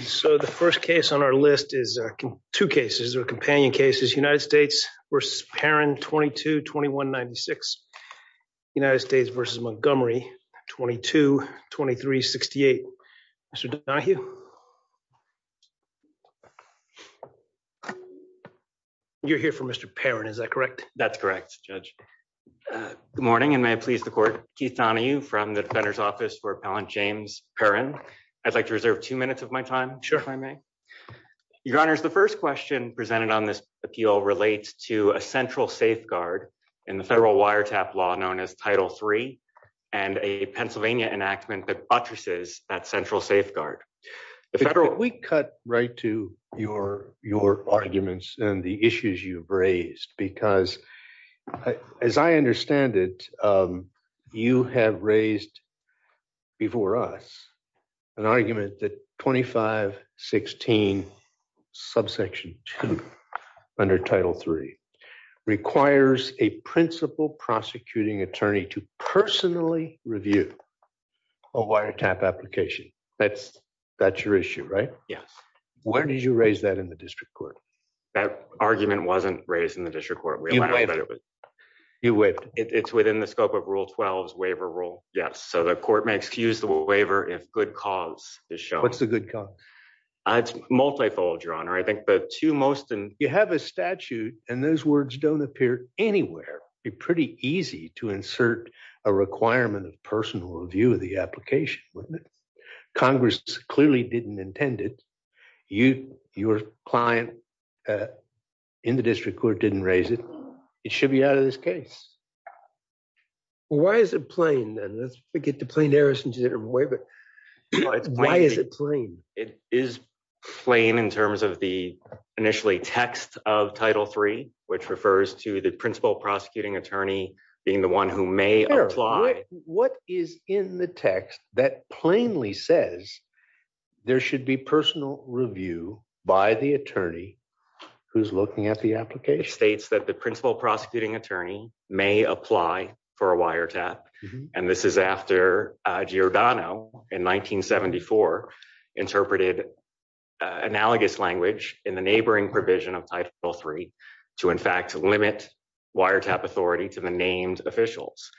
So the first case on our list is two cases or companion cases United States versus Perrin 22-2196. United States versus Montgomery 22-2368. Mr. Donohue. You're here for Mr. Perrin, is that correct? That's correct, Judge. Good morning and may I please the court. Keith Donohue from the Defender's Office for Appellant James Perrin. I'd like to reserve two minutes of my time if I may. Your honors, the first question presented on this appeal relates to a central safeguard in the federal wiretap law known as Title III and a Pennsylvania enactment that buttresses that central safeguard. We cut right to your arguments and the issues you've raised because as I understand it, you have raised before us an argument that 2516 subsection 2 under Title III requires a principal prosecuting attorney to personally review a wiretap application. That's your issue, right? Yes. Where did you raise that in the district court? That argument wasn't raised in the district court. You waived it? It's within the scope of Rule 12's waiver rule, yes. So the court may excuse the waiver if good cause is shown. What's the good cause? It's multifold, your honor. I think the two most... You have a statute and those words don't appear anywhere. It'd be pretty easy to insert a requirement of personal review of the application, wouldn't it? Congress clearly didn't intend it. Your client in the district court didn't raise it. It should be out of this case. Why is it plain then? Let's get to plain error since you didn't waive it. Why is it plain? It is plain in terms of the initially text of Title III, which refers to the principal should be personal review by the attorney who's looking at the application. It states that the principal prosecuting attorney may apply for a wiretap, and this is after Giordano in 1974 interpreted analogous language in the neighboring provision of Title III to in fact limit wiretap authority to the named officials.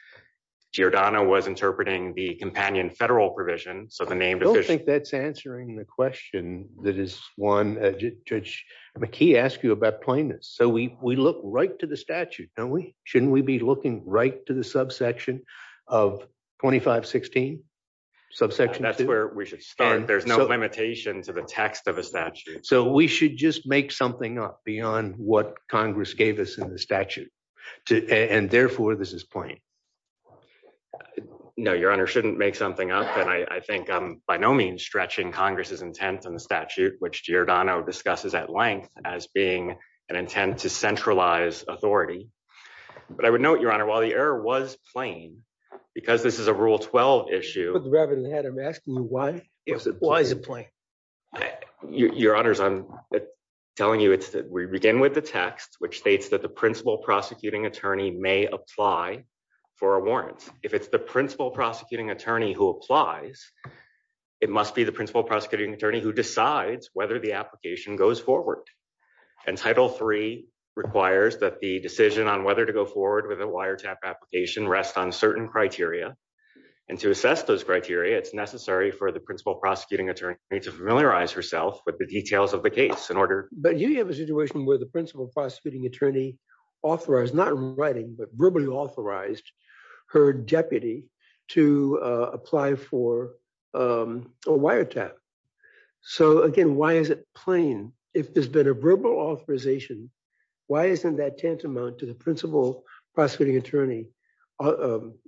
Giordano was interpreting the companion federal provision, so the name... I don't think that's answering the question that is one... Judge McKee asked you about plainness, so we look right to the statute, don't we? Shouldn't we be looking right to the subsection of 2516? That's where we should start. There's no limitation to the text of a statute. So we should just make something up beyond what Congress gave us in the statute, and therefore this is plain. No, Your Honor, shouldn't make something up, and I think I'm by no means stretching Congress's intent on the statute, which Giordano discusses at length as being an intent to centralize authority. But I would note, Your Honor, while the error was plain, because this is a Rule 12 issue... Put the rabbit in the head. I'm asking you why is it plain? Your Honors, I'm telling you it's... We begin with the text, which states that the principal prosecuting attorney may apply for a warrant. If it's the principal prosecuting attorney who applies, it must be the principal prosecuting attorney who decides whether the application goes forward. And Title III requires that the decision on whether to go forward with a wiretap application rests on certain criteria, and to assess those criteria, it's necessary for the principal prosecuting attorney to familiarize herself with the details of the case in order... You have a situation where the principal prosecuting attorney authorized, not in writing, but verbally authorized her deputy to apply for a wiretap. So, again, why is it plain? If there's been a verbal authorization, why isn't that tantamount to the principal prosecuting attorney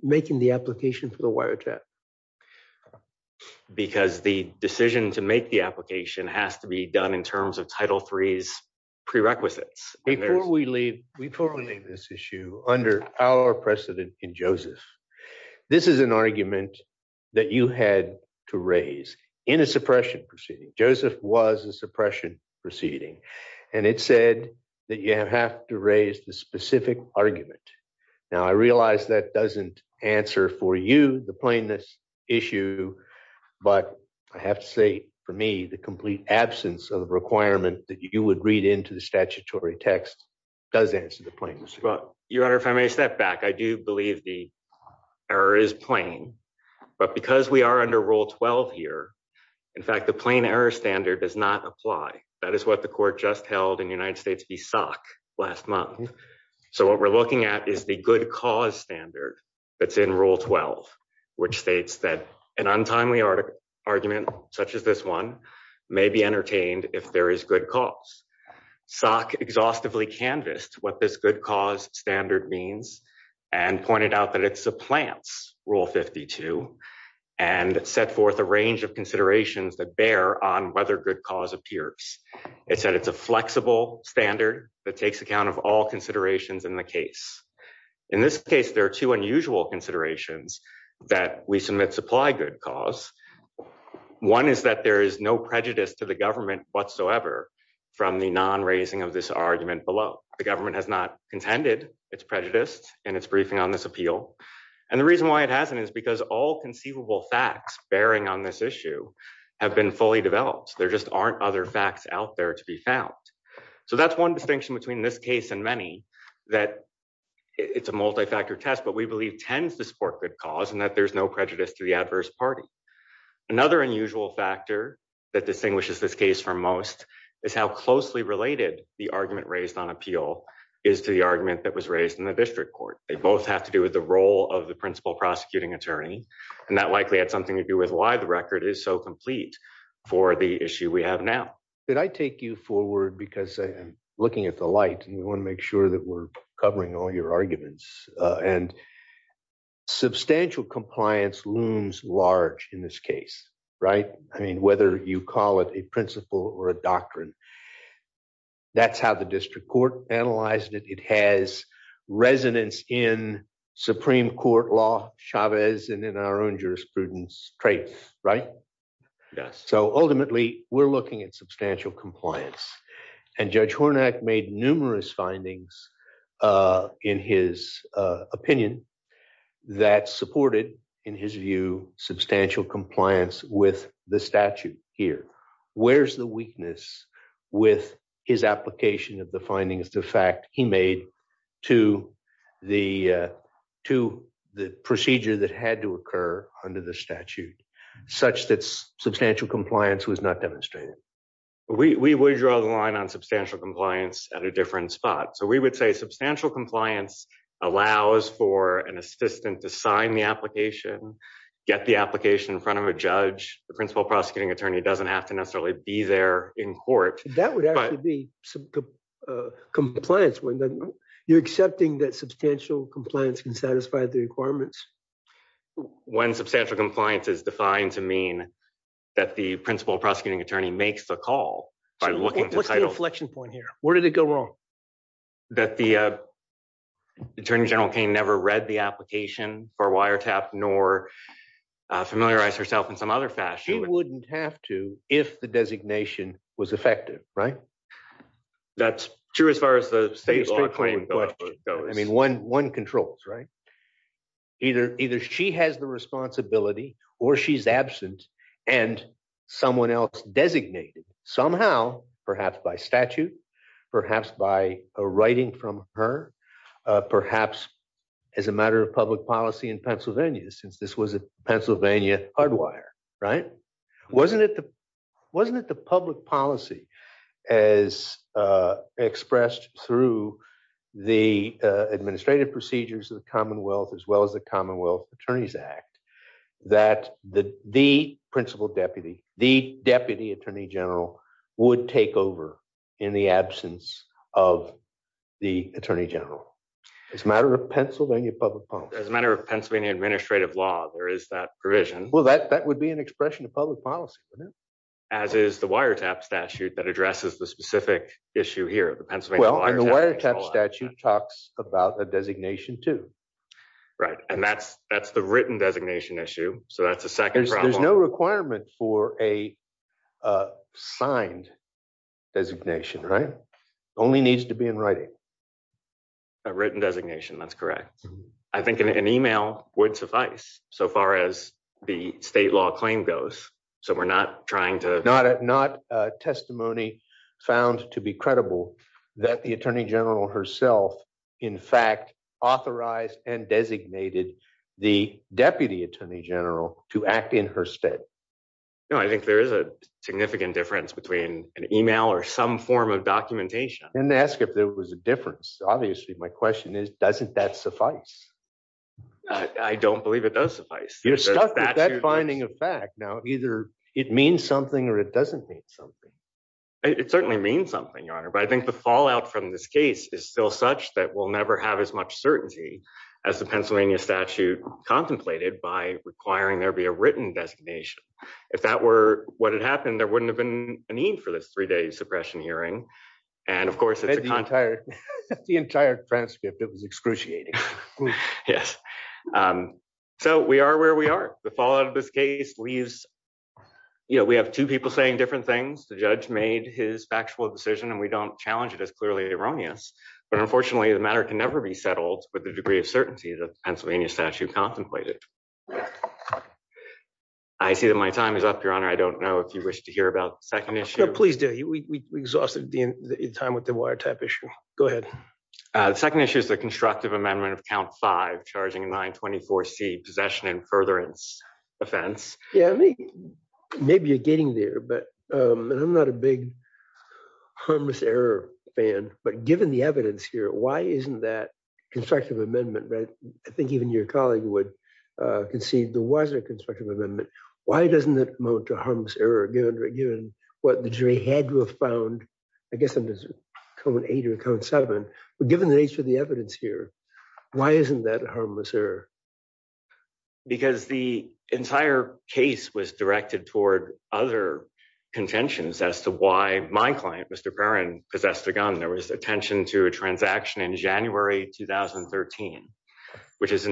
making the application for the wiretap? Because the decision to make the application has to be done in terms of Title III's prerequisites. Before we leave this issue, under our precedent in Joseph, this is an argument that you had to raise in a suppression proceeding. Joseph was a suppression proceeding, and it said that you have to raise the specific argument. Now, I realize that doesn't answer for you, the plainness issue, but I have to say, for me, the complete absence of a requirement that you would read into the statutory text does answer the plainness issue. Your Honor, if I may step back, I do believe the error is plain, but because we are under Rule 12 here, in fact, the plain error standard does not apply. That is what the court just held in the United States PSOC last month. So, what we're looking at is the good cause standard that's Rule 12, which states that an untimely argument, such as this one, may be entertained if there is good cause. PSOC exhaustively canvassed what this good cause standard means and pointed out that it supplants Rule 52 and set forth a range of considerations that bear on whether good cause appears. It said it's a flexible standard that takes account of all considerations in the case. In this case, there are two unusual considerations that we submit supply good cause. One is that there is no prejudice to the government whatsoever from the non-raising of this argument below. The government has not contended its prejudice in its briefing on this appeal, and the reason why it hasn't is because all conceivable facts bearing on this issue have been fully developed. There just aren't other facts out there to be found. So, that's one distinction between this case and many that it's a multi-factor test, but we believe tends to support good cause and that there's no prejudice to the adverse party. Another unusual factor that distinguishes this case from most is how closely related the argument raised on appeal is to the argument that was raised in the district court. They both have to do with the role of the principal prosecuting attorney, and that likely had something to do with why the record is so complete for the issue we have now. I take you forward because I'm looking at the light, and we want to make sure that we're covering all your arguments. Substantial compliance looms large in this case, right? I mean, whether you call it a principle or a doctrine, that's how the district court analyzed it. It has resonance in Supreme Court law, Chavez, and in our own jurisprudence traits, right? Yes. So, ultimately, we're looking at substantial compliance, and Judge Hornak made numerous findings in his opinion that supported, in his view, substantial compliance with the statute here. Where's the weakness with his application of findings, the fact he made to the procedure that had to occur under the statute, such that substantial compliance was not demonstrated? We would draw the line on substantial compliance at a different spot. So, we would say substantial compliance allows for an assistant to sign the application, get the application in front of a judge. The principal prosecuting attorney doesn't have to necessarily be there in court. That would actually be compliance. You're accepting that substantial compliance can satisfy the requirements? When substantial compliance is defined to mean that the principal prosecuting attorney makes the call by looking to title. So, what's the inflection point here? Where did it go wrong? That the Attorney General Kane never read the application for wiretap, nor familiarized herself in some other fashion. She wouldn't have to if the designation was effective, right? That's true as far as the state of the law claim goes. I mean, one controls, right? Either she has the responsibility, or she's absent, and someone else designated somehow, perhaps by statute, perhaps by a writing from her, perhaps as a matter of public policy in Pennsylvania, since this was a Pennsylvania hard right? Wasn't it the public policy as expressed through the administrative procedures of the Commonwealth, as well as the Commonwealth Attorneys Act, that the principal deputy, the deputy Attorney General, would take over in the absence of the Attorney General? It's a matter of Pennsylvania public policy. As a matter of Pennsylvania administrative law, there is that provision. Well, that would be an expression of public policy, wouldn't it? As is the wiretap statute that addresses the specific issue here. Well, the wiretap statute talks about a designation, too. Right. And that's the written designation issue. So, that's the second problem. There's no requirement for a signed designation, right? It only needs to be in writing. A written designation, that's correct. I think an email would suffice, so far as the state law claim goes. So, we're not trying to... Not a testimony found to be credible that the Attorney General herself, in fact, authorized and designated the Deputy Attorney General to act in her stead. No, I think there is a significant difference between an email or some form of documentation. And to ask if there was a difference. Obviously, my question is, doesn't that suffice? I don't believe it does suffice. You're stuck with that finding of fact. Now, either it means something or it doesn't mean something. It certainly means something, Your Honor. But I think the fallout from this case is still such that we'll never have as much certainty as the Pennsylvania statute contemplated by requiring there be a written designation. If that were what had happened, there wouldn't have been a need for this three-day suppression hearing. And of course, it's a... The entire transcript, it was excruciating. Yes. So, we are where we are. The fallout of this case leaves... We have two people saying different things. The judge made his factual decision and we don't challenge it as clearly erroneous. But unfortunately, the matter can never be settled with the degree of certainty that Pennsylvania statute contemplated. I see that my time is up, Your Honor. I don't know if you wish to hear about the second issue. No, please do. We exhausted the time with the wiretap issue. Go ahead. The second issue is the constructive amendment of count five, charging a 924C possession and furtherance offense. Yeah. Maybe you're getting there, but... And I'm not a big harmless error fan, but given the evidence here, why isn't that constructive amendment, right? I think even your colleague would concede there was a constructive amendment. Why doesn't that harmless error, given what the jury had to have found, I guess under code eight or code seven, but given the nature of the evidence here, why isn't that a harmless error? Because the entire case was directed toward other contentions as to why my client, Mr. Perrin, possessed a gun. There was attention to a transaction in January, 2013, which is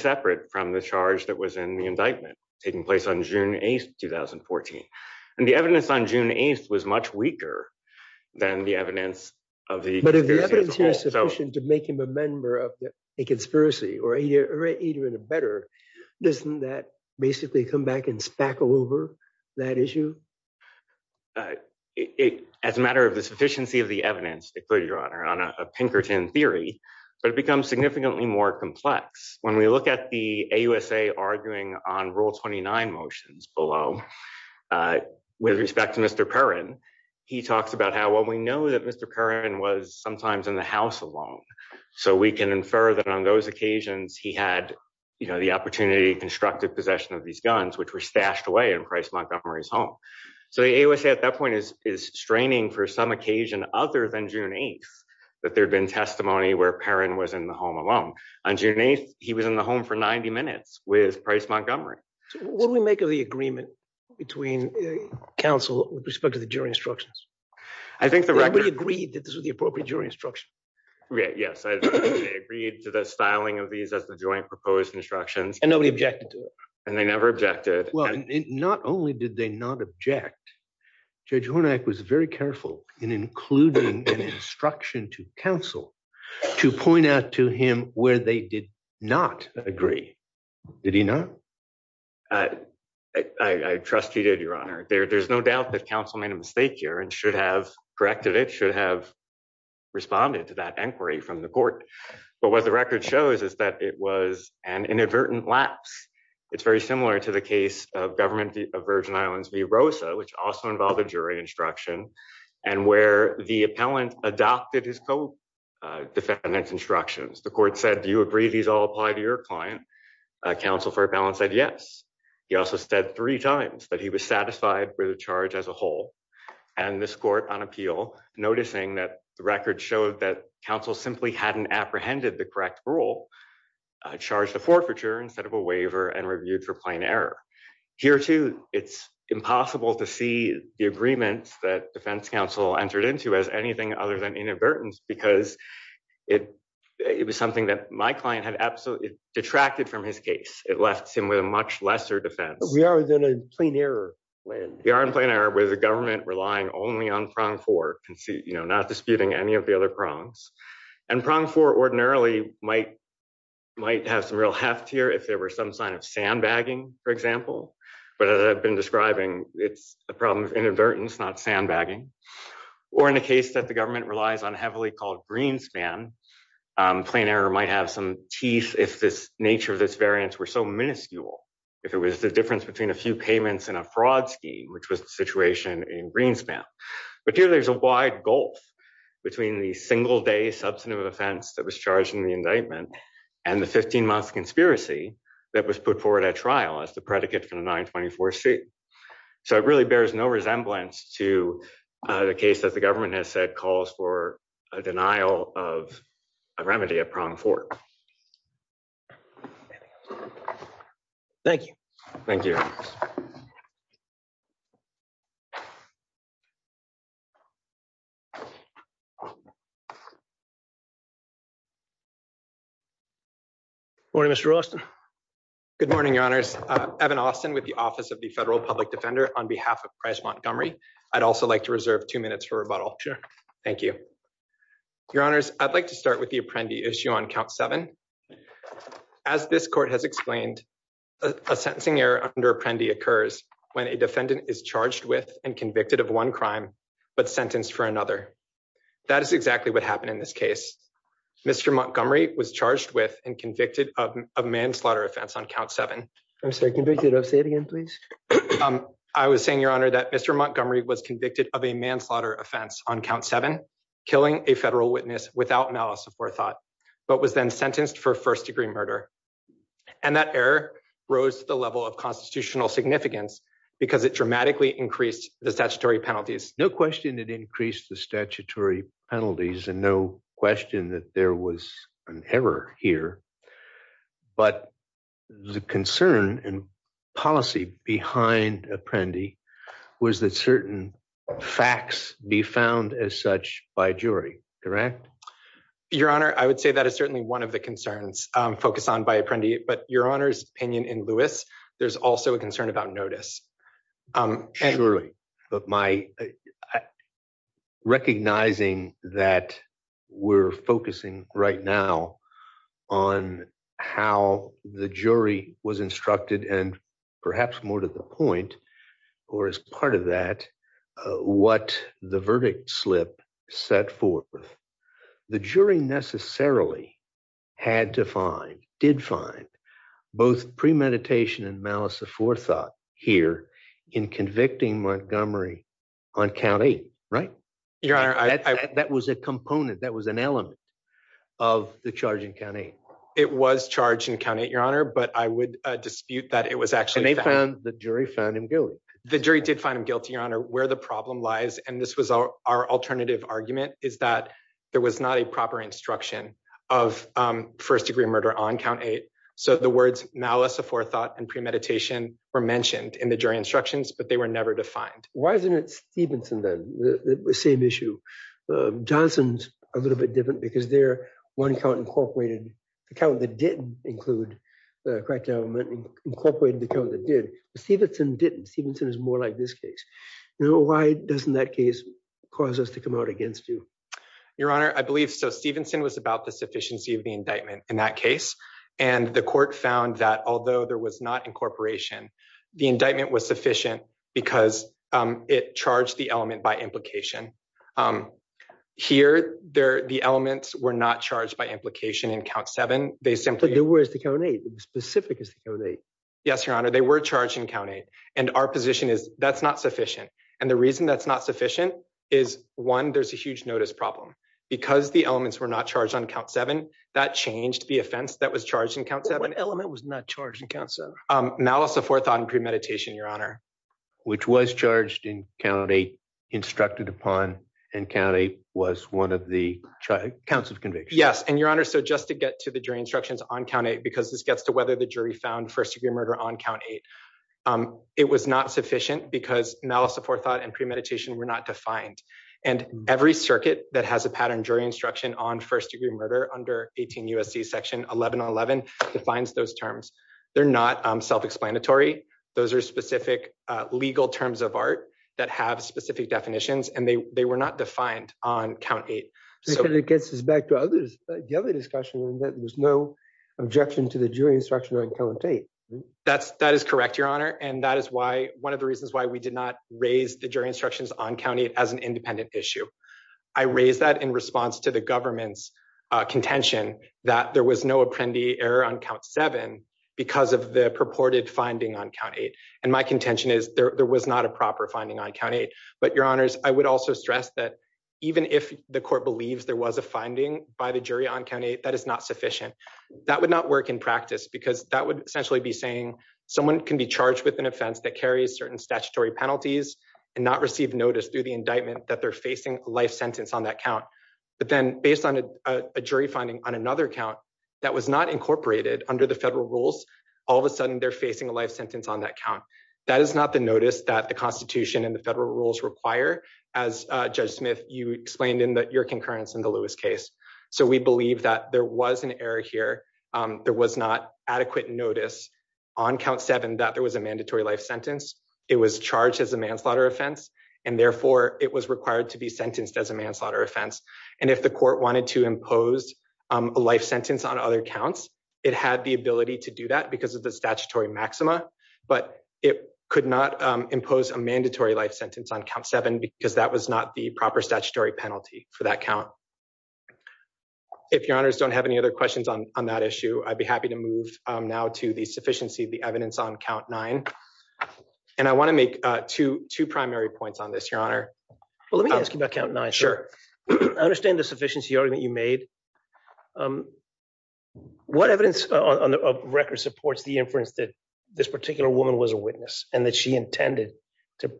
separate from the charge that was in the indictment taking place on June 8th, 2014. And the evidence on June 8th was much weaker than the evidence of the- But if the evidence here is sufficient to make him a member of the conspiracy or even better, doesn't that basically come back and spackle over that issue? As a matter of the sufficiency of the evidence, it could, Your Honor, on a Pinkerton theory, but it becomes significantly more complex. When we look at the AUSA arguing on rule 29 motions below with respect to Mr. Perrin, he talks about how, well, we know that Mr. Perrin was sometimes in the house alone. So we can infer that on those occasions, he had the opportunity, constructive possession of these guns, which were stashed away in Price Montgomery's home. So the AUSA at that point is straining for some occasion other than June 8th, that there'd been testimony where Perrin was in the home alone. On June 8th, he was in the home for 90 minutes with Price Montgomery. What do we make of the agreement between counsel with respect to the jury instructions? I think the record- Nobody agreed that this was the appropriate jury instruction. Yes, I agree to the styling of these as the joint proposed instructions. And nobody objected to it. And they never objected. Well, not only did they not object, Judge Hornac was very careful in including an instruction to counsel to point out to him where they did not agree. Did he not? I trust he did, Your Honor. There's no doubt that counsel made a mistake here and should have corrected it, should have responded to that inquiry from the court. But what the record shows is that it was an inadvertent lapse. It's very similar to the case of Government of Virgin Islands v. Rosa, which also involved a jury instruction, and where the appellant adopted his co-defendant's instructions. The court said, do you agree these all apply to your client? Counsel for appellant said yes. He also said three times that he was satisfied with the charge as a whole. And this court on appeal, noticing that the record showed that counsel simply hadn't apprehended the correct rule, charged a forfeiture instead of a waiver and reviewed for plain error. Here too, it's impossible to see the agreement that defense counsel entered into as anything other than inadvertence, because it was something that my client had absolutely detracted from his case. It left him with a much lesser defense. We are within a plain error. We are in plain error with the government relying only on prong four, not disputing any of the other prongs. And prong four ordinarily might have some real heft here if there were some sign of sandbagging, for example. But as I've been describing, it's a problem of inadvertence, not sandbagging. Or in a case that the government relies on heavily called greenspan, plain error might have some teeth if this nature of this variance were so minuscule, if it was the difference between a few payments and a fraud scheme, which was the situation in greenspan. But here there's a wide gulf between the single day substantive offense that was charged in the indictment and the 15 months conspiracy that was put forward at trial as the predicate for the 924 C. So it really bears no resemblance to the case that the government has said calls for a denial of a remedy at prong four. Thank you. Thank you. Morning, Mr. Austin. Good morning, Your Honors. Evan Austin with the Office of the Federal Public Defender on behalf of Price Montgomery. I'd also like to reserve two minutes for rebuttal. Thank you. Your Honors, I'd like to start with the Apprendi issue on count seven. As this court has explained, a sentencing error under Apprendi occurs when a defendant is charged with and convicted of one crime, but sentenced for another. That is exactly what happened in this case. Mr. Montgomery was charged with and convicted of a manslaughter offense on count seven. I'm sorry, convicted. Say it again, please. I was saying, Your Honor, that Mr. Montgomery was convicted of a manslaughter offense on count killing a federal witness without malice before thought, but was then sentenced for first-degree murder. And that error rose to the level of constitutional significance because it dramatically increased the statutory penalties. No question it increased the statutory penalties, and no question that there was an error here. But the concern and policy behind Apprendi was that certain facts be found as such by jury, correct? Your Honor, I would say that is certainly one of the concerns focused on by Apprendi, but Your Honor's opinion in Lewis, there's also a concern about notice. Surely, but my recognizing that we're focusing right now on how the jury was instructed, and perhaps more to the point, or as part of that, what the verdict slip set forth. The jury necessarily had to find, did find, both premeditation and malice before thought here in convicting Montgomery on count eight, right? Your Honor, that was a component, that was an element of the charge in count eight. It was charged in count eight, Your Honor, but I would dispute that it was actually found. And they found, the jury found him guilty. The jury did find him guilty, Your Honor. Where the problem lies, and this was our alternative argument, is that there was not a proper instruction of first-degree murder on count eight. So the words malice before thought and premeditation were mentioned in the jury instructions, but they were never defined. Why isn't it Stevenson then, the same issue? Johnson's a little bit different because there, one count incorporated, the count that didn't include the crackdown, incorporated the count that did, but Stevenson didn't. Stevenson is more like this case. Now, why doesn't that case cause us to come out against you? Your Honor, I believe so. Stevenson was about the sufficiency of the indictment in that case, and the court found that although there was not incorporation, the indictment was sufficient because it charged the element by implication. Here, the elements were not charged by implication in count seven. They simply- But they were in count eight. It was specific as to count eight. Yes, Your Honor, they were charged in count eight, and our position is that's not sufficient. And the reason that's not sufficient is, one, there's a huge notice problem. Because the elements were not charged on count seven, that changed the offense that was charged in count seven. What element was not charged in count seven? Malice of forethought and premeditation, Your Honor. Which was charged in count eight, instructed upon, and count eight was one of the counts of conviction. Yes, and Your Honor, so just to get to the jury instructions on count eight, because this gets to whether the jury found first-degree murder on count eight, it was not sufficient because malice of forethought and premeditation were not defined. And every circuit that has a pattern jury instruction on first-degree murder under 18 section 1111 defines those terms. They're not self-explanatory. Those are specific legal terms of art that have specific definitions, and they were not defined on count eight. And it gets us back to the other discussion that there's no objection to the jury instruction on count eight. That is correct, Your Honor, and that is one of the reasons why we did not raise the jury instructions on count eight as an independent issue. I raised that in response to the government's contention that there was no apprendee error on count seven because of the purported finding on count eight. And my contention is there was not a proper finding on count eight, but Your Honors, I would also stress that even if the court believes there was a finding by the jury on count eight, that is not sufficient. That would not work in practice because that would essentially be saying someone can be charged with an offense that carries certain statutory penalties and not receive notice through the indictment that they're facing life sentence on that count. But then based on a jury finding on another count that was not incorporated under the federal rules, all of a sudden they're facing a life sentence on that count. That is not the notice that the Constitution and the federal rules require, as Judge Smith, you explained in your concurrence in the Lewis case. So we believe that there was an error here. There was not adequate notice on count seven that there was a mandatory life sentence. It was charged as a manslaughter offense, and therefore it was required to be sentenced as a manslaughter offense. And if the court wanted to impose a life sentence on other counts, it had the ability to do that because of the statutory maxima, but it could not impose a mandatory life sentence on count seven because that was not the proper statutory penalty for that count. If Your Honors don't have any other questions on that issue, I'd be happy to move now to the sufficiency of the evidence on count nine. And I want to make two primary points on this, Your Honor. Well, let me ask you about count nine. Sure. I understand the sufficiency argument you made. What evidence on the record supports the inference that this particular woman was a witness and that she intended to,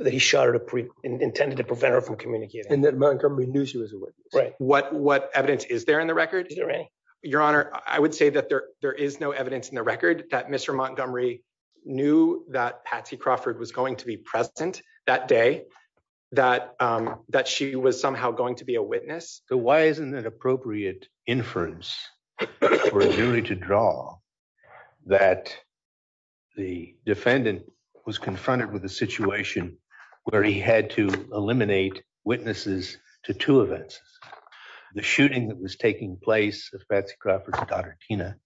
that he shot her, intended to prevent her from communicating? And that Montgomery knew she was a witness. Right. What evidence is there in the record? Is there any? Your Honor, I would say that there is no evidence in the record that Mr. Montgomery knew that Patsy Crawford was going to be present that day, that she was somehow going to be a witness. So why isn't it appropriate inference for a jury to draw that the defendant was confronted with a situation where he had to eliminate witnesses to two events, the shooting that was taking place of Patsy Crawford's daughter, Tina,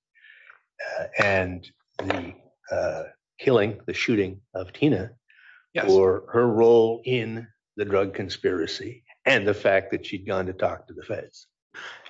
and the killing, the shooting of Tina, or her role in the drug conspiracy and the fact that she'd gone to talk to the feds?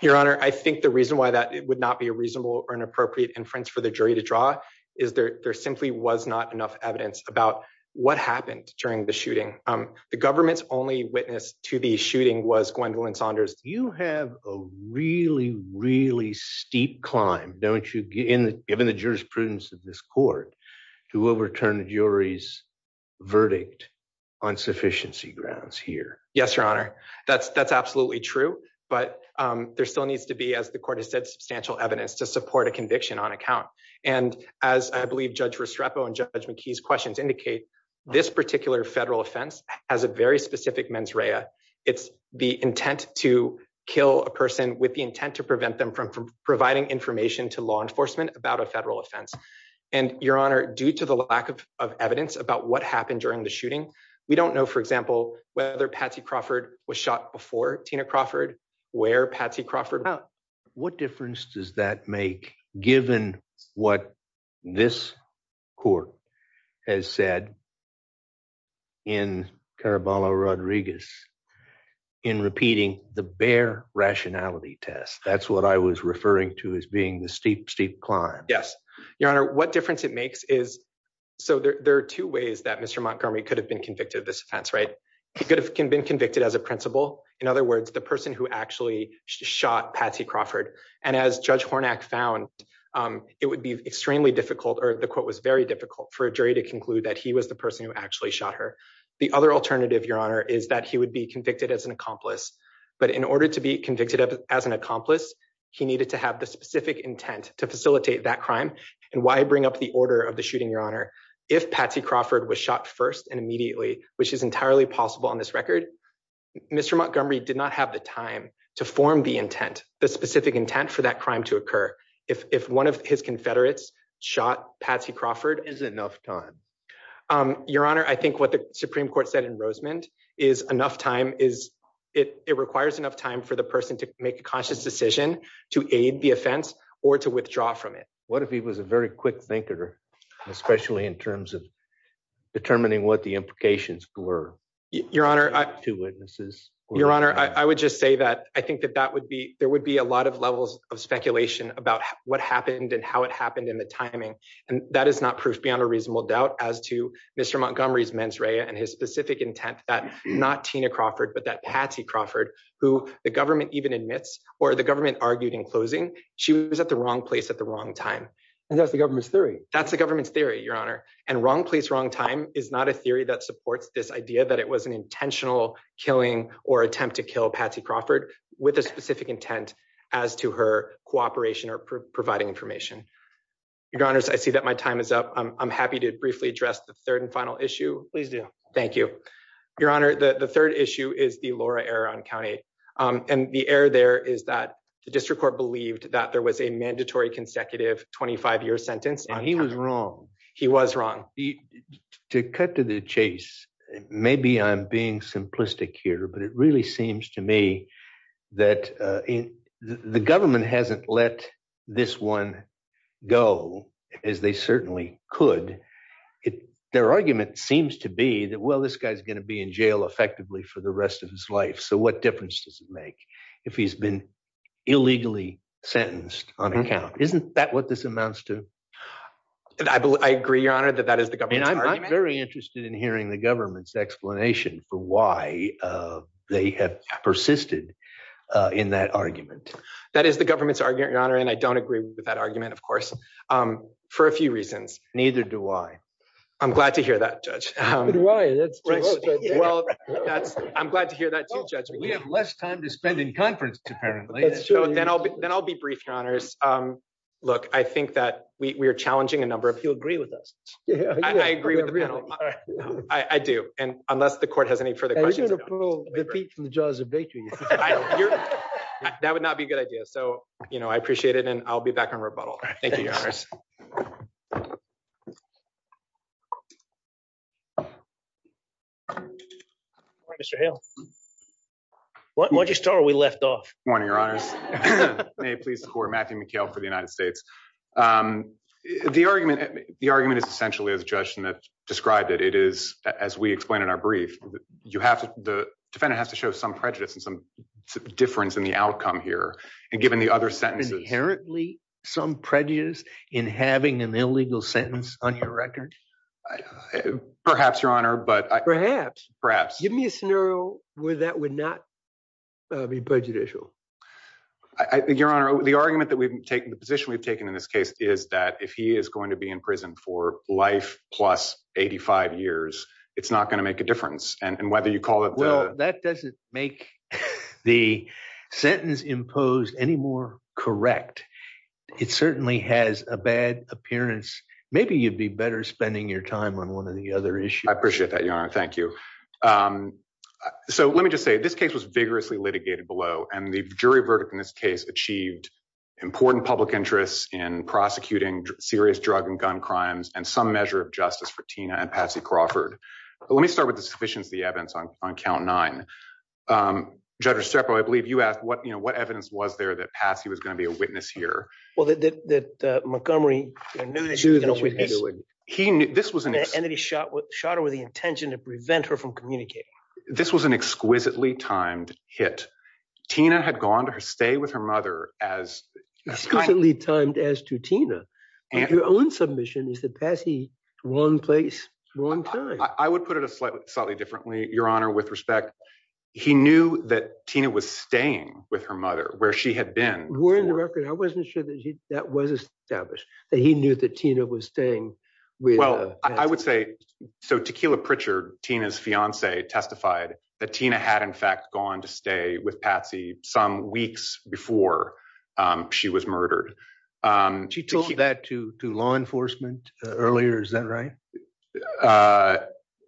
Your Honor, I think the reason why that would not be a reasonable or an appropriate inference for the jury to draw is there simply was not enough evidence about what happened during the shooting. The government's only witness to the shooting was Gwendolyn Saunders. You have a really, really steep climb, don't you, given the jurisprudence of this court, to overturn the jury's verdict on sufficiency grounds here. Yes, Your Honor. That's absolutely true. But there still needs to be, as the court has said, substantial evidence to support a conviction on account. And as I believe Judge Restrepo and McKee's questions indicate, this particular federal offense has a very specific mens rea. It's the intent to kill a person with the intent to prevent them from providing information to law enforcement about a federal offense. And, Your Honor, due to the lack of evidence about what happened during the shooting, we don't know, for example, whether Patsy Crawford was shot before Tina Crawford, where Patsy Crawford was shot. What difference does that make given what this court has said in Caraballo-Rodriguez in repeating the bare rationality test? That's what I was referring to as being the steep, steep climb. Yes, Your Honor. What difference it makes is, so there are two ways that Mr. Montgomery could have been convicted of this offense, right? He could have been convicted as a principal. In other words, the person who actually shot Patsy Crawford. And as Judge Hornak found, it would be extremely difficult, the quote was very difficult for a jury to conclude that he was the person who actually shot her. The other alternative, Your Honor, is that he would be convicted as an accomplice. But in order to be convicted as an accomplice, he needed to have the specific intent to facilitate that crime. And why bring up the order of the shooting, Your Honor? If Patsy Crawford was shot first and immediately, which is entirely possible on this record, Mr. Montgomery did not have the time to form the intent, the specific intent for that crime to occur. If one of his confederates shot Patsy Crawford. Is it enough time? Your Honor, I think what the Supreme Court said in Rosemond is enough time is, it requires enough time for the person to make a conscious decision to aid the offense or to withdraw from it. What if he was a very quick thinker, especially in terms of determining what the implications were to witnesses? Your Honor, I would just say that I think that that would be, there would be a lot of levels of speculation about what happened and how it happened in the timing. And that is not proof beyond a reasonable doubt as to Mr. Montgomery's mens rea and his specific intent that not Tina Crawford, but that Patsy Crawford, who the government even admits, or the government argued in closing, she was at the wrong place at the wrong time. And that's the government's theory. That's the government's theory, Your Honor. And wrong place, wrong time is not a theory that supports this idea that it was an intentional killing or attempt to kill Patsy Crawford with a specific intent as to her cooperation or providing information. Your Honor, I see that my time is up. I'm happy to briefly address the third and final issue. Please do. Thank you, Your Honor. The third issue is the Laura Erron County. And the error there is that the district court believed that there was a mandatory consecutive 25 year sentence. He was wrong. He was wrong. To cut to the chase, maybe I'm being simplistic here, but it really seems to me that the government hasn't let this one go as they certainly could. Their argument seems to be that, well, this guy's going to be in jail effectively for the rest of his life. So what difference does it make if he's been illegally sentenced on account? Isn't that what this amounts to? I agree, Your Honor, that that is the government's argument. I'm very interested in hearing the government's explanation for why they have persisted in that argument. That is the government's argument, Your Honor, and I don't agree with that argument, of course, for a few reasons. Neither do I. I'm glad to hear that, Judge. I'm glad to hear that too, Judge. We have less time to spend in conference, apparently. Then I'll be brief, Your Honors. Look, I think that we are challenging a number of- Do you agree with us? I agree with the panel. I do. Unless the court has any further questions- Are you going to pull the feet from the jaws of victory? That would not be a good idea. I appreciate it and I'll be back on rebuttal. Thank you, Your Honors. Mr. Hale, why'd you start when we left off? Good morning, Your Honors. May it please the court, Matthew McHale for the United States. The argument is essentially, as Judge Schnitt described it, it is, as we explained in our brief, the defendant has to show some prejudice and some difference in the outcome here, and given the other sentences- Inherently some prejudice in having an illegal sentence on your record? Perhaps, Your Honor, but- Perhaps. Give me a scenario where that would not be prejudicial. Your Honor, the argument that we've taken, the position we've taken in this case, is that if he is going to be in prison for life plus 85 years, it's not going to make a difference. And whether you call it- Well, that doesn't make the sentence imposed any more correct. It certainly has a bad appearance. Maybe you'd be better spending your time on one of the other issues. I appreciate that, Your Honor. Thank you. So let me just say, this case was vigorously litigated below, and the jury verdict in this case achieved important public interests in prosecuting serious drug and gun crimes and some measure of justice for Tina and Patsy Crawford. But let me start with the sufficiency of the evidence on count nine. Judge Restrepo, I believe you asked what evidence was there that Patsy was going to be a witness here. Well, that Montgomery knew that he was going to witness- And that he shot her with the intention to prevent her from communicating. This was an exquisitely timed hit. Tina had gone to stay with her mother as- Exquisitely timed as to Tina. Your own submission is that Patsy, wrong place, wrong time. I would put it slightly differently, Your Honor, with respect. He knew that Tina was staying with her mother where she had been. We're in the record. I wasn't sure that that was established, that he knew that Tina was staying with- I would say, so Tequila Pritchard, Tina's fiance, testified that Tina had, in fact, gone to stay with Patsy some weeks before she was murdered. She told that to law enforcement earlier. Is that right?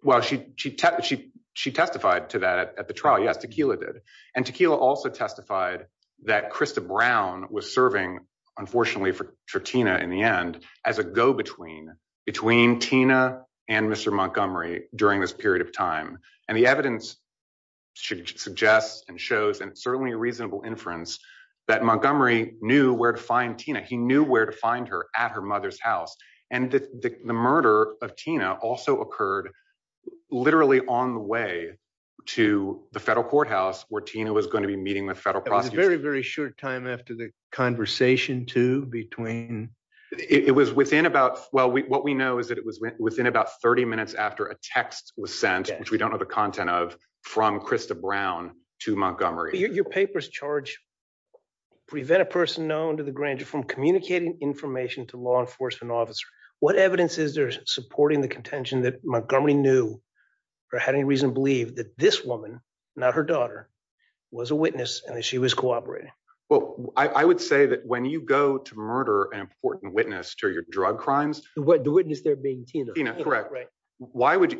Well, she testified to that at the trial. Yes, Tequila did. And Tequila also testified that Krista Brown was serving, unfortunately for Tina in the end, as a go-between between Tina and Mr. Montgomery during this period of time. And the evidence suggests and shows, and it's certainly a reasonable inference, that Montgomery knew where to find Tina. He knew where to find her at her mother's house. And the murder of Tina also occurred literally on the way to the federal courthouse where Tina was going to be meeting with federal prosecutors. It was a very, very short time after the murder of Tina. It was within about, well, what we know is that it was within about 30 minutes after a text was sent, which we don't know the content of, from Krista Brown to Montgomery. Your paper's charge, prevent a person known to the grand jury from communicating information to law enforcement officer. What evidence is there supporting the contention that Montgomery knew, or had any reason to believe, that this woman, not her daughter, was a witness and that she was cooperating? Well, I would say that when you go to murder an important witness to your drug crimes. The witness there being Tina. Tina, correct. Why would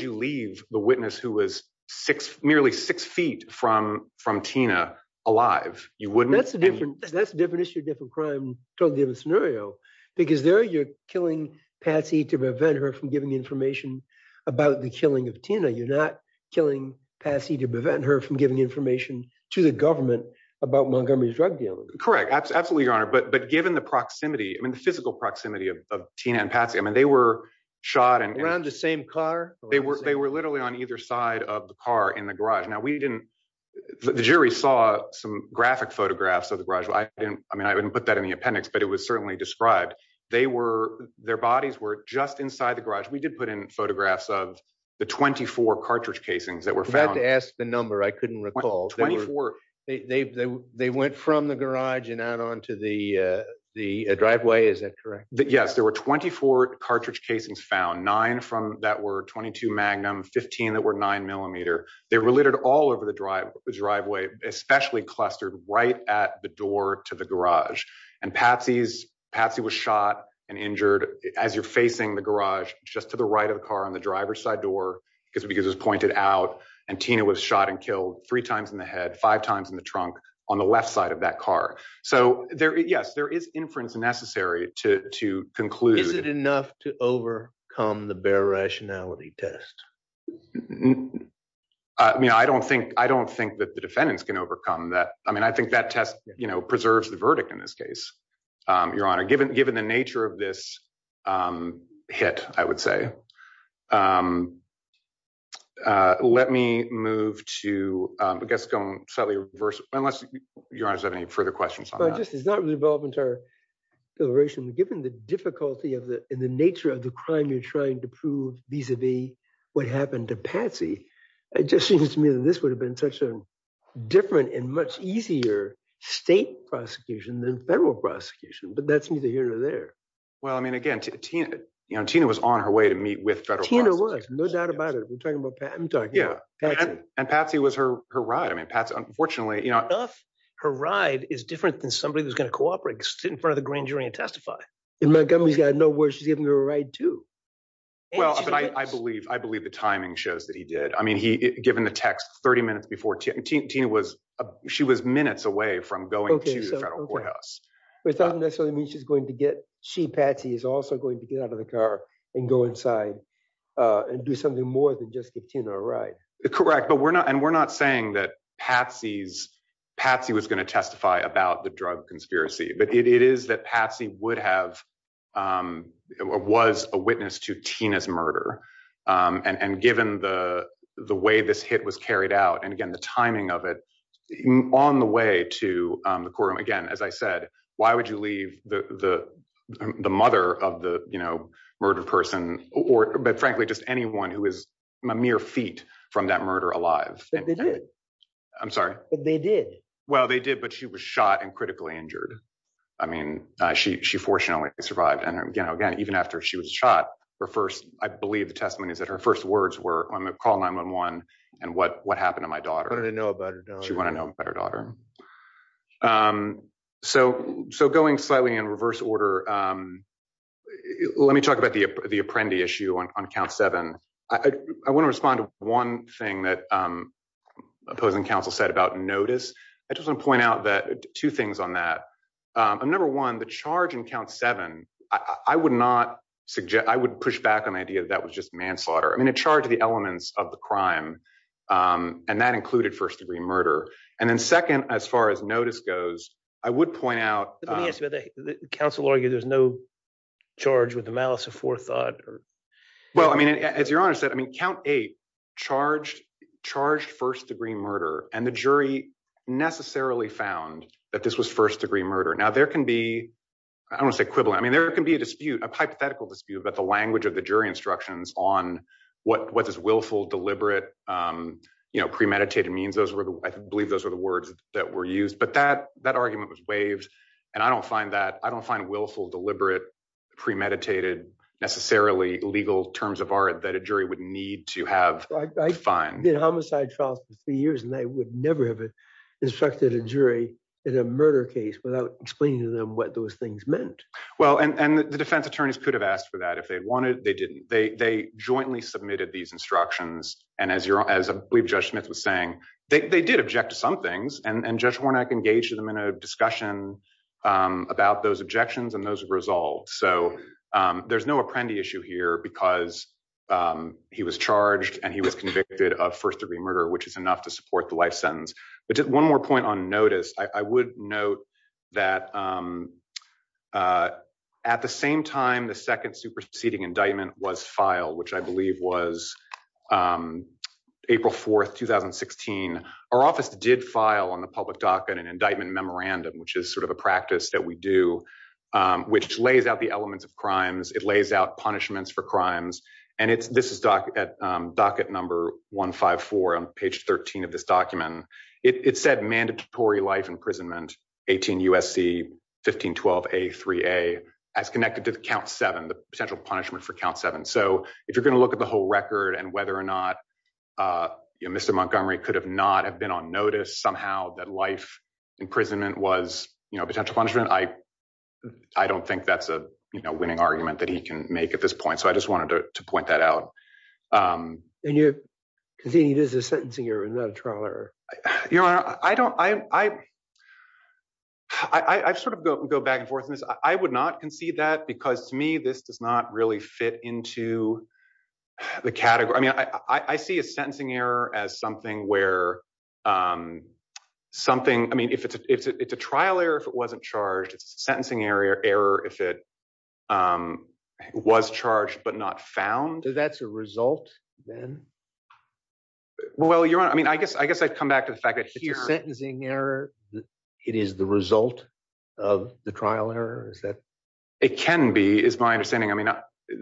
you leave the witness who was six, nearly six feet from Tina alive? You wouldn't. That's a different issue, different crime, totally different scenario. Because there you're killing Patsy to prevent her from giving information about the killing of Tina. You're not killing Patsy to prevent her from giving information to the government about Montgomery's drug dealing. Correct. Absolutely, Your Honor. But given the proximity, I mean, the physical proximity of Tina and Patsy, I mean, they were shot and- Around the same car? They were literally on either side of the car in the garage. Now, we didn't, the jury saw some graphic photographs of the garage. I didn't, I mean, I wouldn't put that in the appendix, but it was certainly described. They were, their bodies were just inside the garage. We did put in photographs of the 24 cartridge casings that were found. I'm about to ask the number. I couldn't recall. They went from the garage and out onto the driveway. Is that correct? Yes. There were 24 cartridge casings found, nine from that were 22 magnum, 15 that were nine millimeter. They were littered all over the driveway, especially clustered right at the door to the garage. And Patsy's, Patsy was shot and injured as you're facing the garage, just to the right of the car on the driver's side door, because it was pointed out. And Tina was shot and killed three times in the head, five times in the trunk on the left side of that car. So there, yes, there is inference necessary to conclude. Is it enough to overcome the bare rationality test? I mean, I don't think, I don't think that the defendants can overcome that. I mean, I think that test preserves the verdict in this case, Your Honor. Given the nature of this, um, hit, I would say, um, uh, let me move to, um, I guess going slightly reverse, unless Your Honor has any further questions on that. I just, it's not really relevant to our deliberation. Given the difficulty of the, in the nature of the crime you're trying to prove vis-a-vis what happened to Patsy, it just seems to me that this would have been such a different and much easier state prosecution than federal prosecution, but that's neither here nor there. Well, I mean, again, Tina, you know, Tina was on her way to meet with federal prosecutors. Tina was, no doubt about it. We're talking about Pat, I'm talking about Patsy. And Patsy was her, her ride. I mean, Patsy, unfortunately, you know. Enough. Her ride is different than somebody that's going to cooperate, just sit in front of the grand jury and testify. And Montgomery's got no words. She's giving her a ride too. Well, I believe, I believe the timing shows that he did. I mean, he, given the text 30 minutes before Tina, Tina was, she was minutes away from going to the federal courthouse. But it doesn't necessarily mean she's going to get, she, Patsy, is also going to get out of the car and go inside and do something more than just give Tina a ride. Correct. But we're not, and we're not saying that Patsy's, Patsy was going to testify about the drug conspiracy, but it is that Patsy would have, was a witness to Tina's murder. And, and given the, the way this hit was carried out, and again, the timing of it on the way to the courtroom, again, as I said, why would you leave the, the, the mother of the, you know, murder person or, but frankly, just anyone who is a mere feet from that murder alive. But they did. I'm sorry. But they did. Well, they did, but she was shot and critically injured. I mean, she, she fortunately survived. And again, again, even after she was shot, her first, I believe the testimony is that her first words were on the call 9-1-1 and what, what happened to my daughter. She wanted to know about her daughter. She wanted to know about her daughter. So, so going slightly in reverse order, let me talk about the, the Apprendi issue on count seven. I want to respond to one thing that opposing counsel said about notice. I just want to point out that two things on that. Number one, the charge in count seven, I would not suggest, I would push back on the idea that was just manslaughter. I mean, it charged the elements of the crime and that included first degree murder. And then second, as far as notice goes, I would point out. Counsel argue there's no charge with the malice of forethought. Well, I mean, as your honor said, I mean, count eight charged, charged first degree murder and the jury necessarily found that this was first degree murder. Now there can be, I don't want to say equivalent. I mean, there can be a dispute, a hypothetical dispute about the language of the jury instructions on what, what does willful, deliberate, you know, premeditated means. Those were the, I believe those were the words that were used, but that, that argument was waived. And I don't find that, I don't find willful, deliberate, premeditated, necessarily legal terms of art that a jury would need to have. I did homicide trials for three years and they would never have instructed a jury in a murder case without explaining to them what those things meant. Well, and the defense attorneys could have asked for that if they wanted, they didn't, they jointly submitted these instructions. And as your, as I believe Judge Smith was saying, they did object to some things and Judge Warnock engaged them in a discussion about those objections and those results. So there's no apprendee issue here because he was charged and he was convicted of first degree murder, which is enough to support the sentence. But just one more point on notice, I would note that at the same time, the second superseding indictment was filed, which I believe was April 4th, 2016. Our office did file on the public docket an indictment memorandum, which is sort of a practice that we do, which lays out the elements of crimes. It lays out punishments for crimes and it's, this is docket number 154 on page 13 of this document. It said mandatory life imprisonment, 18 USC 1512A3A as connected to the count seven, the potential punishment for count seven. So if you're going to look at the whole record and whether or not, you know, Mr. Montgomery could have not have been on notice somehow that life imprisonment was, you know, potential punishment. I don't think that's a winning argument that he can make at this point. So I just wanted to point that out. And you're conceding this is a sentencing error and not a trial error. Your honor, I don't, I, I sort of go back and forth in this. I would not concede that because to me, this does not really fit into the category. I mean, I see a sentencing error as something where something, I mean, if it's a trial error, if it wasn't charged, it's a sentencing error, if it was charged, but not found. So that's a result then? Well, your honor, I mean, I guess, I guess I'd come back to the fact that here. If it's a sentencing error, it is the result of the trial error, is that? It can be, is my understanding. I mean,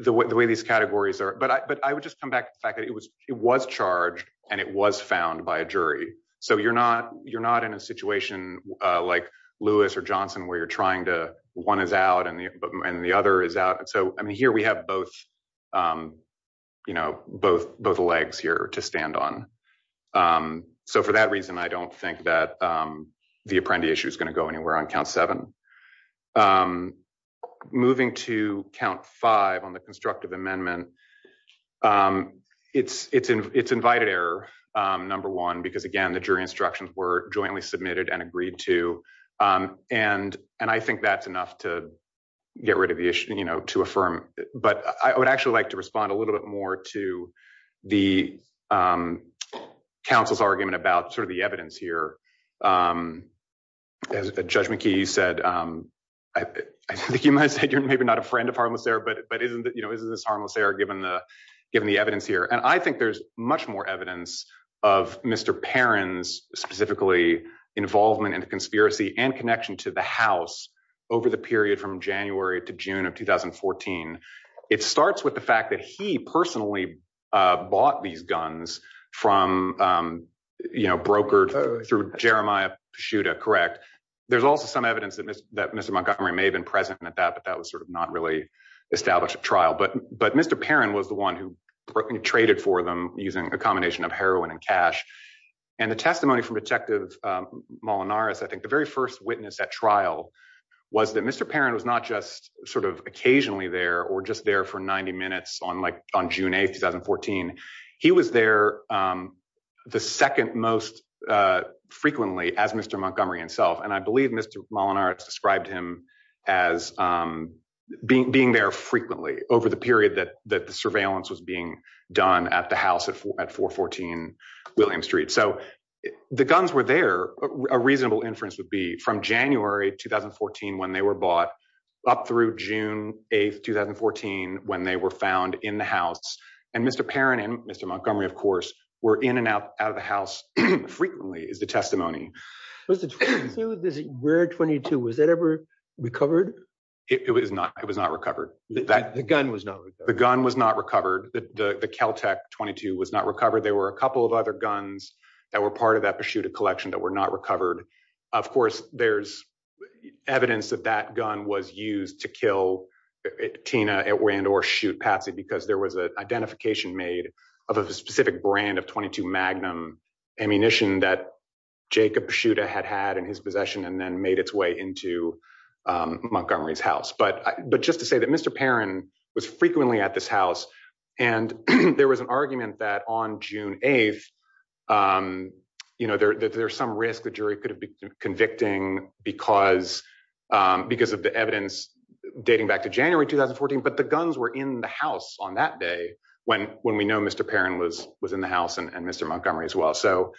the way these categories are, but I would just come back to the fact that it was, it was charged and it was found by a jury. So you're not, you're not in a situation like Lewis or Johnson where you're trying to, one is out and the other is out. So, I mean, here we have both, you know, both, both legs here to stand on. So for that reason, I don't think that the Apprendi issue is going to go anywhere on count seven. Moving to count five on the constructive amendment, it's invited error, number one, because again, the jury instructions were jointly submitted and agreed to. And, and I think that's enough to get rid of the issue, you know, to affirm, but I would actually like to respond a little bit more to the council's argument about sort of the evidence here. As the judgment key, you said, I think you might say you're maybe not a friend of harmless error, but, but isn't that, you know, isn't this harmless error given the, the evidence here? And I think there's much more evidence of Mr. Perrin's specifically involvement in the conspiracy and connection to the house over the period from January to June of 2014. It starts with the fact that he personally bought these guns from, you know, brokered through Jeremiah Paschuta, correct? There's also some evidence that Mr. Montgomery may have been present at that, but that was sort of not really established at trial. But, Mr. Perrin was the one who traded for them using a combination of heroin and cash. And the testimony from detective Molinaris, I think the very first witness at trial was that Mr. Perrin was not just sort of occasionally there or just there for 90 minutes on like on June 8th, 2014. He was there the second most frequently as Mr. Montgomery himself. And I believe Mr. Molinaris described him as being, being there frequently over the surveillance was being done at the house at 414 William Street. So, the guns were there. A reasonable inference would be from January, 2014, when they were bought up through June 8th, 2014, when they were found in the house. And Mr. Perrin and Mr. Montgomery, of course, were in and out of the house frequently is the testimony. Was the 22, this rare 22, was that ever recovered? It was not. It was not recovered. The gun was not recovered. The gun was not recovered. The Kel-Tec 22 was not recovered. There were a couple of other guns that were part of that Pachuta collection that were not recovered. Of course, there's evidence that that gun was used to kill Tina and or shoot Patsy because there was an identification made of a specific brand of 22 Magnum ammunition that Jacob Pachuta had had in his possession and then its way into Montgomery's house. But just to say that Mr. Perrin was frequently at this house and there was an argument that on June 8th, there's some risk the jury could have been convicting because of the evidence dating back to January, 2014, but the guns were in the house on that day when we know Mr. Perrin was in the house and Mr. Montgomery as well. So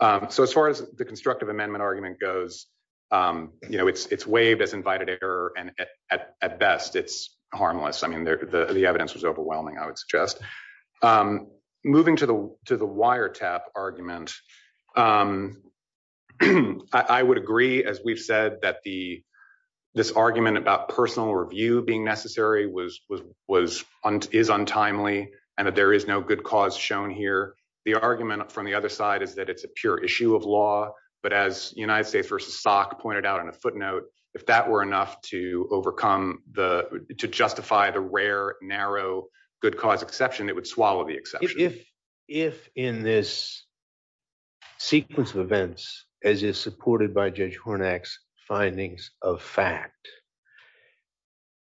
as far as the constructive amendment argument goes, it's waived as invited error and at best, it's harmless. I mean, the evidence was overwhelming, I would suggest. Moving to the wiretap argument, I would agree as we've said that this argument about personal review being necessary is untimely and that there is no good cause shown here. The argument from the other side is that it's a pure issue of law, but as United States versus Salk pointed out on a footnote, if that were enough to overcome the, to justify the rare, narrow, good cause exception, it would swallow the exception. If in this sequence of events, as is supported by Judge Hornak's findings of fact,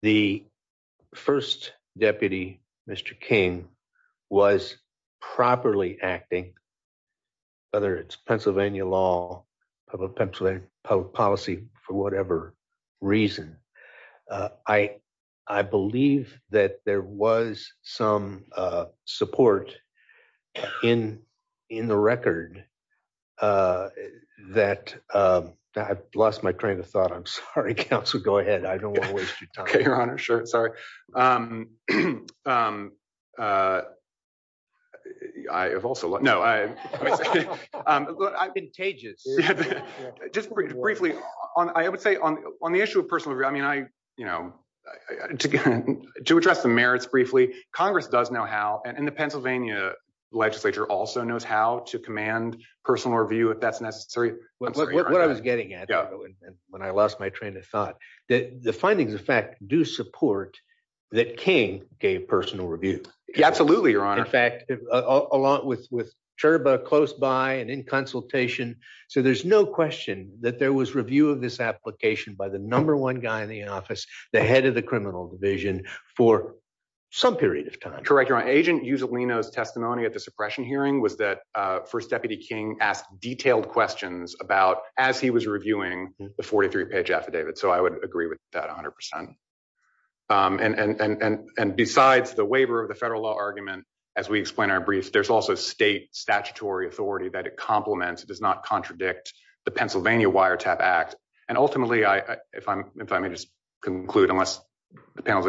the first deputy, Mr. King, was properly acting, whether it's Pennsylvania law, public policy, for whatever reason. I believe that there was some support in the record that I've lost my train of thought. I'm sorry, counsel, go ahead. I don't want to waste your time. Okay, your honor. Sure. Sorry. I have also, no, I've been contagious. Just briefly, I would say on the issue of personal review, I mean, I, you know, to address the merits briefly, Congress does know how and the Pennsylvania legislature also knows how to command personal review if that's necessary. What I was getting at when I lost my train of thought, that the findings of fact do support that King gave personal review. Absolutely, your honor. In fact, along with Chirba close by and in consultation, so there's no question that there was review of this application by the number one guy in the office, the head of the criminal division for some period of time. Correct, your honor. Agent testimony at the suppression hearing was that first deputy King asked detailed questions about as he was reviewing the 43 page affidavit. So I would agree with that a hundred percent. And, and, and, and, and besides the waiver of the federal law argument, as we explain our briefs, there's also state statutory authority that it compliments. It does not contradict the Pennsylvania wire tap act. And ultimately I, if I'm, if I may just conclude unless the panel's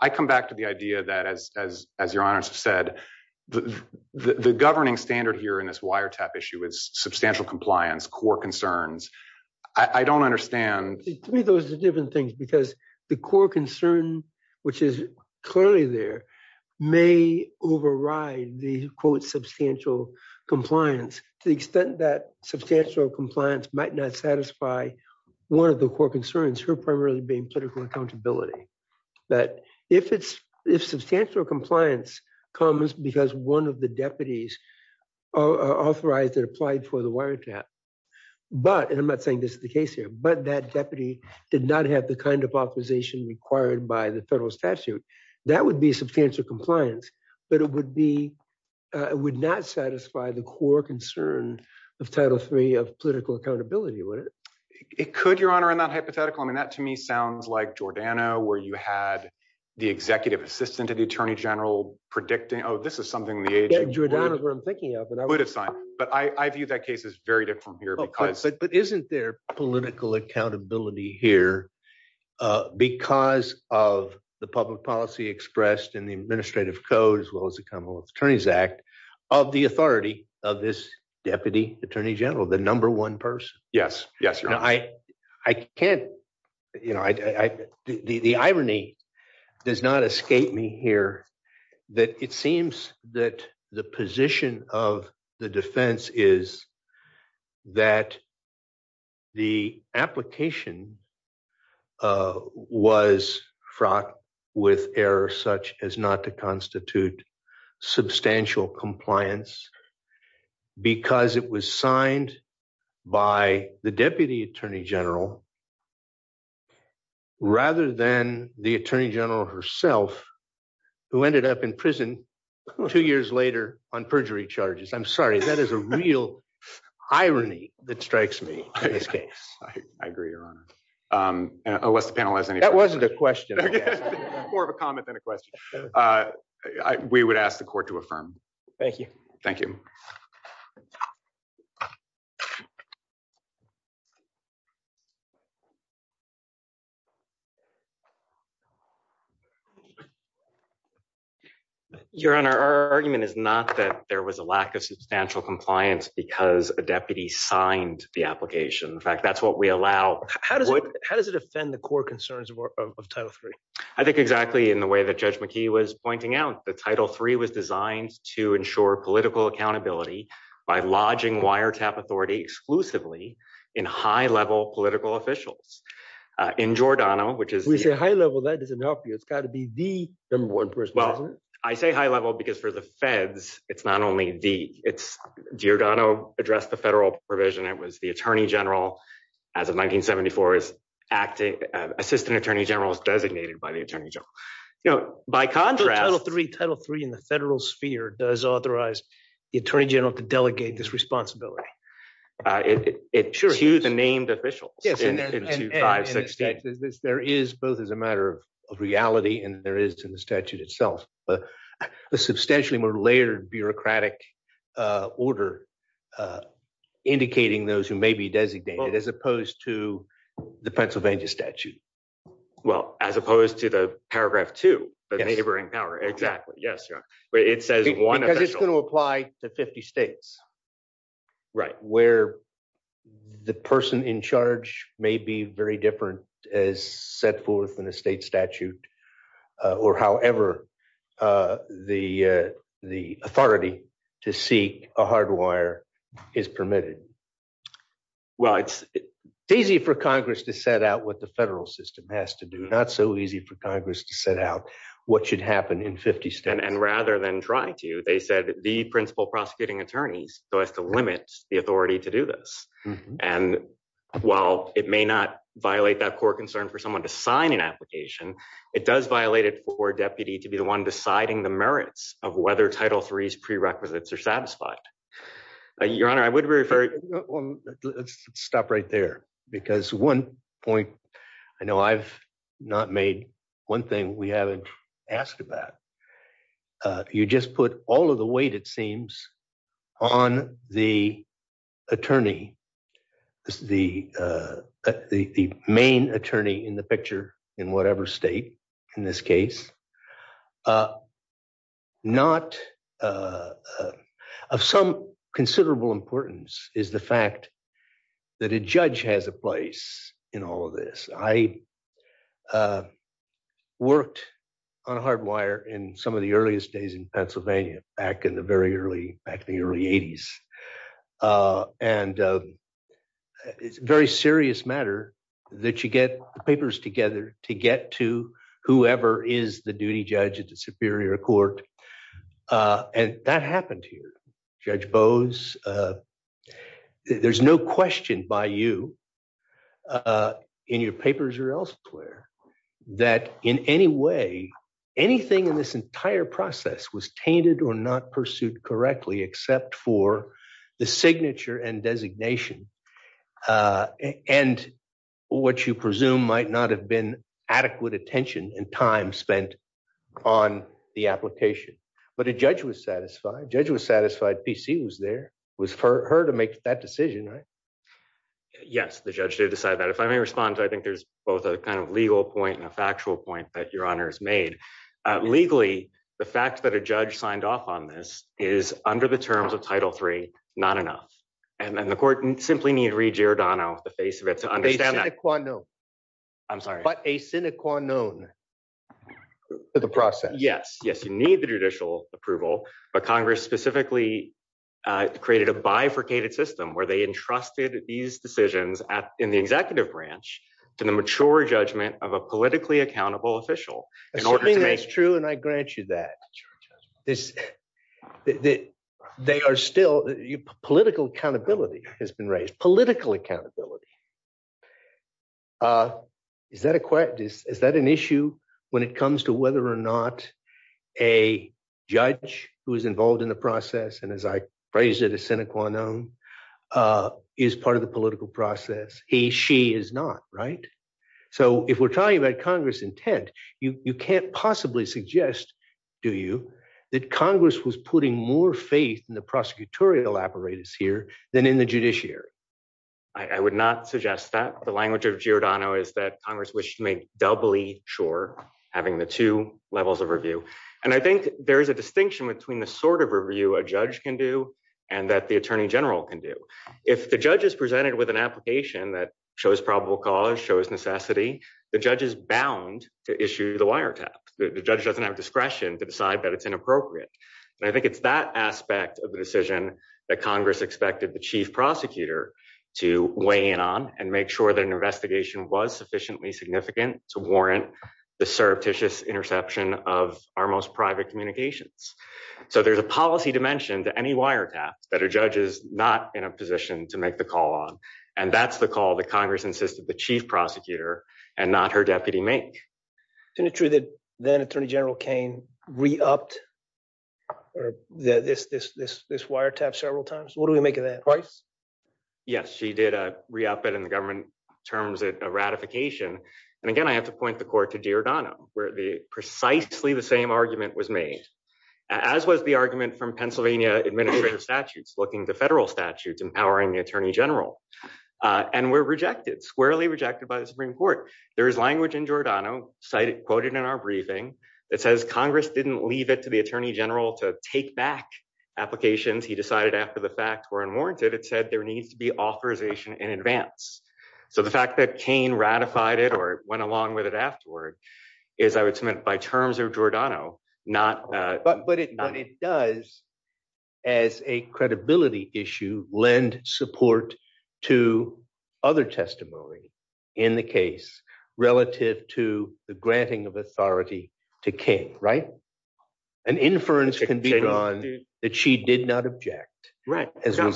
I come back to the idea that as, as, as your honors have said, the, the, the governing standard here in this wire tap issue is substantial compliance, core concerns. I don't understand. To me, those are different things because the core concern, which is clearly there may override the quote substantial compliance to the extent that substantial compliance might not satisfy one of the core concerns for primarily being political accountability. But if it's, if substantial compliance comes because one of the deputies are authorized and applied for the wire tap, but, and I'm not saying this is the case here, but that deputy did not have the kind of authorization required by the federal statute that would be substantial compliance, but it would be, it would not satisfy the core concern of title three of political accountability. Would it? It could your honor in that hypothetical. I mean, that to me sounds like Giordano where you had the executive assistant to the attorney general predicting, Oh, this is something in the age of Giordano where I'm thinking of, but I would assign, but I view that case is very different here because, but isn't there political accountability here because of the public policy expressed in the administrative code, as well as the commonwealth attorneys act of the authority of this deputy attorney general, the number one person. Yes. Yes. I, I can't, you know, I, I, the, the irony does not escape me here that it seems that the position of the defense is that the application was fraught with error, such as not to constitute substantial compliance because it was signed by the deputy attorney general, rather than the attorney general herself who ended up in prison two years later on perjury charges. I'm sorry. That is a real irony that strikes me in this case. I agree your honor. Unless the panel has any, that wasn't a question, more of a comment than a question. Uh, I, we would ask the court to affirm. Thank you. Thank you. Your honor, our argument is not that there was a lack of substantial compliance because a deputy signed the application. In fact, that's what we allow. How does it, how does it offend the core concerns of title three? I think exactly in the way that judge McKee was pointing out, the title three was designed to ensure political accountability by lodging wiretap authority exclusively in high level political officials, uh, in Giordano, which is, we say high level, that doesn't help you. It's gotta be the number one person. I say high level because for the feds, it's not only the it's Giordano addressed the federal provision. It was the attorney general as of 1974 is acting, uh, assistant attorney general is designated by the attorney general. You know, by contrast, title three, title three in the federal sphere does authorize the attorney general to delegate this responsibility. Uh, it, it, it, sure. To the named officials. There is both as a matter of reality and there is in the statute itself, a substantially more layered bureaucratic, uh, order, uh, indicating those who may be designated as opposed to the Pennsylvania statute. Well, as opposed to the paragraph two, but neighboring power, exactly. Yes. Yeah. But it says one, it's going to apply to 50 states, right? Where the person in charge may be very different as set forth in a state statute, uh, or however, uh, the, uh, the authority to seek a hard wire is permitted. Well, it's easy for Congress to set out what the federal system has to do. Not so easy for Congress to set out what should happen in 50 states. And rather than try to, they said the principal prosecuting attorneys, so as to limit the authority to do this. And while it may not violate that core concern for someone to sign an application, it does violate it for a deputy to be the one deciding the merits of whether title threes prerequisites are satisfied. Your honor, I would refer it. Let's stop right there because one point, I know I've not made one thing we haven't asked about. Uh, you just put all of the weight. It seems on the attorney, the, uh, the, the main attorney in the picture in whatever state in this case, not, uh, of some considerable importance is the fact that a judge has a place in all of this. I, uh, worked on a hard wire in some of the earliest days in Pennsylvania, back in the very early, back in the early eighties. Uh, and, uh, it's very serious matter that you get the papers together to get to whoever is the duty judge at the superior court. Uh, and that happened here, judge bows. Uh, there's no question by you, uh, in your papers or elsewhere that in any way, anything in this entire process was tainted or not pursued correctly, except for the signature and designation. Uh, and what you presume might not have been adequate attention and time spent on the application, but a judge was satisfied. Judge was satisfied. PC was there was for her to make that decision, right? Yes. The judge did decide that if I may respond to, I think there's both a kind of legal point and a factual point that your honors made, uh, legally, the fact that a judge signed off on this is under the terms of title three, not enough. And then the court simply need to read Girodano the face of it to understand that. I'm sorry, but a Seneca known for the process. Yes. Yes. You need the judicial approval, but Congress specifically, uh, created a bifurcated system where they entrusted these decisions at in the executive branch to the mature judgment of a politically accountable official in order to make true. And I grant you that this, that they are still political accountability has been raised. Political accountability. Uh, is that a question? Is that an issue when it comes to whether or not a judge who is involved in the process? And as I phrased it, a Seneca known, uh, is part of the political process. He, she is not right. So if we're talking about Congress intent, you, you can't possibly suggest, do you, that Congress was putting more faith in the prosecutorial apparatus here than in the judiciary. I would not suggest that the language of Girodano is that Congress wished to make doubly sure having the two levels of review. And I think there is a distinction between the sort of review a judge can do and that the attorney general can do. If the judge is presented with an application that shows probable cause shows necessity, the judge is bound to issue the wire tap. The judge doesn't have discretion to decide that it's inappropriate. And I think it's that aspect of the decision that Congress expected the chief prosecutor to weigh in on and make sure that an investigation was sufficiently significant to warrant the surreptitious interception of our most private communications. So there's a policy dimension to any wire taps that are judges not in a position to make the call on. And that's the call that Congress insisted the chief prosecutor and not her deputy make. Isn't it true that then attorney general Cain re-upped this, this, this, this, this wire tap several times? What do we make of that? Twice? Yes, she did re-up it in the government terms of ratification. And again, I have to point the court to Girodano where the precisely the same argument was made, as was the argument from Pennsylvania administrative statutes, looking to federal statutes, empowering the attorney general. And were rejected, squarely rejected by the Supreme Court. There is language in Giordano cited, quoted in our briefing that says Congress didn't leave it to the attorney general to take back applications. He decided after the facts were unwarranted, it said there needs to be authorization in advance. So the fact that Cain ratified it or went along with it afterward is I would submit by terms of Giordano, not... But, but it does as a credibility issue, lend support to other testimony in the case relative to the granting of authority to Cain, right? An inference can be drawn that she did not object. Right. It's But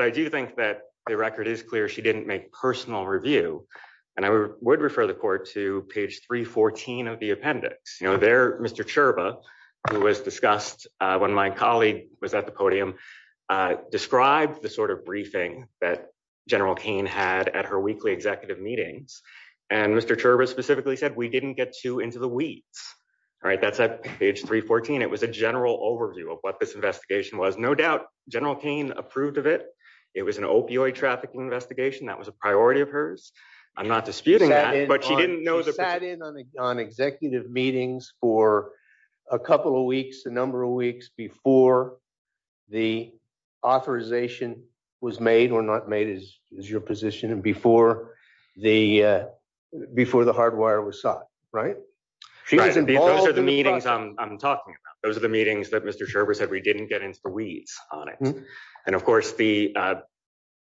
I do think that the record is clear. She didn't make personal review. And I would refer the court to page 314 of the appendix. You know, there, Mr. Chirba, who was discussed when my colleague was at the podium, described the sort of briefing that General Cain had at her weekly executive meetings. And Mr. Chirba specifically said, we didn't get too into the weeds. Right? That's at page 314. It was a general overview of what this investigation was. No doubt General Cain approved of it. It was an opioid trafficking investigation. That was a priority of hers. I'm not disputing that, but she didn't know... She sat in on executive meetings for a couple of weeks, a number of weeks before the authorization was made or not made as your position and before the, before the hardwire was sought, right? She was involved in the process... Didn't get into the weeds on it. And of course the...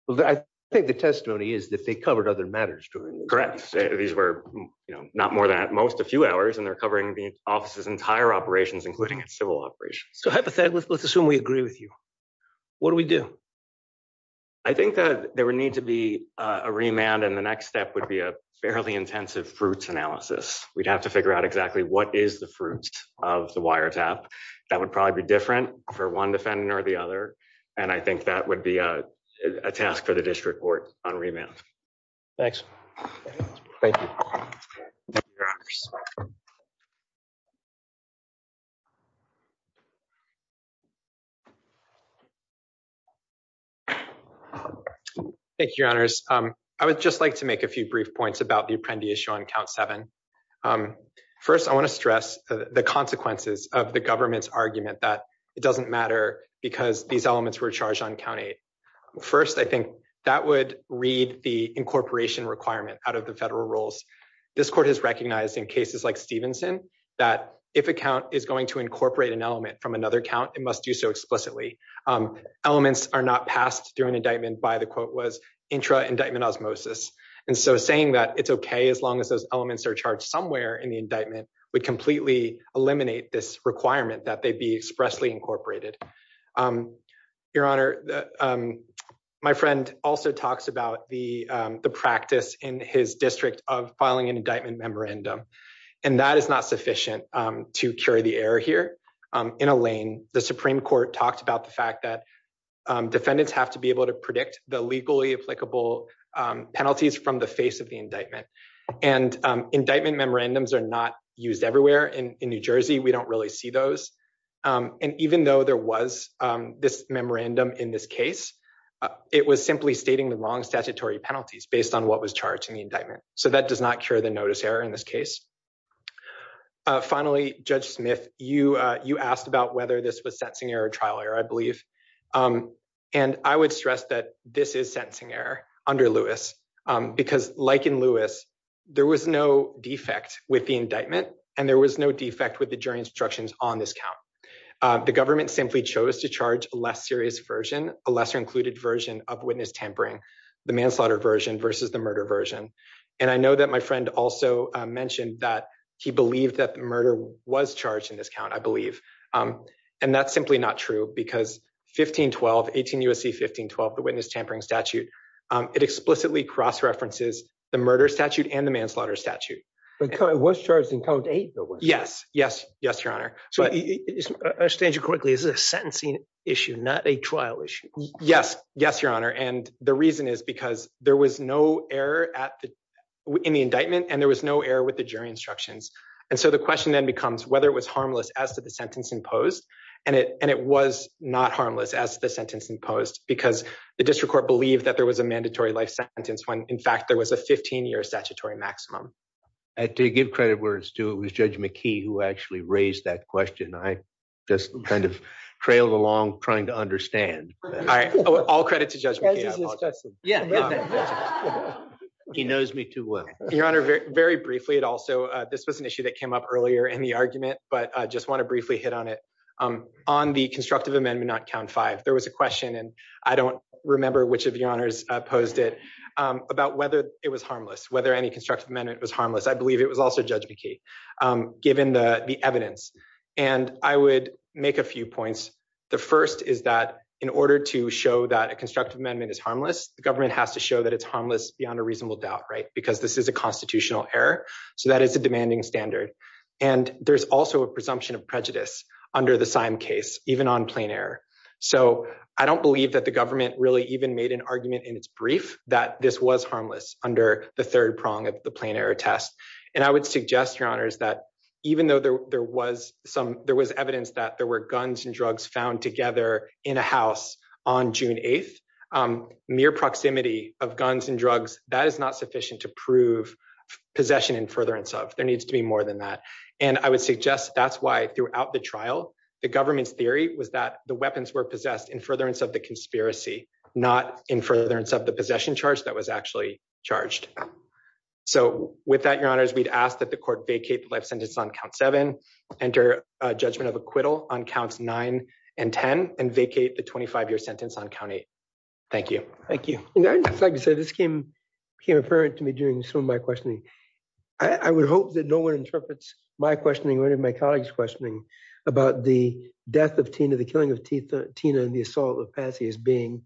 Well, I think the testimony is that they covered other matters during this. Correct. These were, you know, not more than at most a few hours and they're covering the office's entire operations, including its civil operations. So hypothetically, let's assume we agree with you. What do we do? I think that there would need to be a remand. And the next step would be a fairly intensive fruits analysis. We'd have to figure out exactly what is the fruit of the wiretap that would probably be different for one defendant or the other. And I think that would be a task for the district court on remand. Thanks. Thank you. Thank you, your honors. I would just like to make a few brief points about the apprendee on count seven. First, I want to stress the consequences of the government's argument that it doesn't matter because these elements were charged on county. First, I think that would read the incorporation requirement out of the federal rules. This court has recognized in cases like Stevenson that if a count is going to incorporate an element from another count, it must do so explicitly. Elements are not passed through an indictment by the quote was intra indictment osmosis. And so saying that it's OK as long as those elements are charged somewhere in the indictment would completely eliminate this requirement that they be expressly incorporated. Your honor, my friend also talks about the practice in his district of filing an indictment memorandum, and that is not sufficient to carry the air here in a lane. The Supreme Court talked about the fact that defendants have to be able to predict the legally applicable penalties from the face of the indictment. And indictment memorandums are not used everywhere in New Jersey. We don't really see those. And even though there was this memorandum in this case, it was simply stating the wrong statutory penalties based on what was charged in the indictment. So that does not cure the notice error in this case. Finally, Judge Smith, you you asked about whether this was sentencing error or trial error, I believe. And I would stress that this is sentencing error under Lewis, because like in Lewis, there was no defect with the indictment and there was no defect with the jury instructions on this count. The government simply chose to charge a less serious version, a lesser included version of witness tampering, the manslaughter version versus the murder version. And I know that my friend also mentioned that he believed that the murder was charged in this count, I believe. And that's simply not true, because 1512, 18 U.S.C. 1512, the witness tampering statute, it explicitly cross-references the murder statute and the manslaughter statute. But it was charged in count eight, though, wasn't it? Yes. Yes. Yes, Your Honor. So I understand you correctly. This is a sentencing issue, not a trial issue. Yes. Yes, Your Honor. And the reason is because there was no error in the indictment and there was no error with the jury instructions. And so the question then becomes whether it was imposed. And it was not harmless as the sentence imposed, because the district court believed that there was a mandatory life sentence when, in fact, there was a 15-year statutory maximum. And to give credit where it's due, it was Judge McKee who actually raised that question. I just kind of trailed along trying to understand. All right. All credit to Judge McKee. He knows me too well. Your Honor, very briefly, it also, this was an issue that came up earlier in the argument, but I just want to briefly hit on it. On the constructive amendment on count five, there was a question, and I don't remember which of Your Honors posed it, about whether it was harmless, whether any constructive amendment was harmless. I believe it was also Judge McKee, given the evidence. And I would make a few points. The first is that in order to show that a constructive amendment is harmless, the government has to show that it's harmless beyond a reasonable doubt, right? Because this is a constitutional error. So that is a demanding standard. And there's also a presumption of prejudice under the Syme case, even on plain error. So I don't believe that the government really even made an argument in its brief that this was harmless under the third prong of the plain error test. And I would suggest, Your Honors, that even though there was evidence that there were guns and drugs found together in a house on June 8th, mere proximity of guns and drugs, that is not sufficient to prove possession in furtherance of. There needs to be more than that. And I would suggest that's why, throughout the trial, the government's theory was that the weapons were possessed in furtherance of the conspiracy, not in furtherance of the possession charge that was actually charged. So with that, Your Honors, we'd ask that the court vacate the life sentence on count seven, enter a judgment of acquittal on counts nine and ten, and vacate the 25-year sentence on count eight. Thank you. Thank you. I'd just like to say this came apparent to me during some of my questioning. I would hope that no one interprets my questioning or any of my colleagues' questioning about the death of Tina, the killing of Tina, and the assault of Patsy as being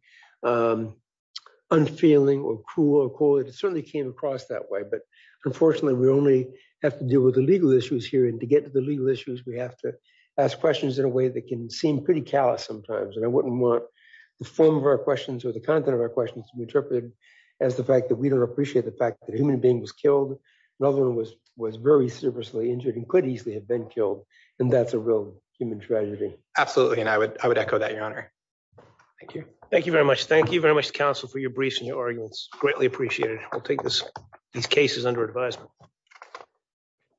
unfeeling or cruel or cold. It certainly came across that way. But unfortunately, we only have to deal with the legal issues here. And to get to the legal issues, we have to ask questions in a way that can seem pretty callous sometimes. And I wouldn't want the form of our questions or the content of our questions to be interpreted as the fact that we don't appreciate the fact that a human being was killed, rather than was very seriously injured and could easily have been killed. And that's a real human tragedy. Absolutely. And I would echo that, Your Honor. Thank you. Thank you very much. Thank you very much, counsel, for your briefs and your arguments. Greatly appreciated. I'll take these cases under advisement.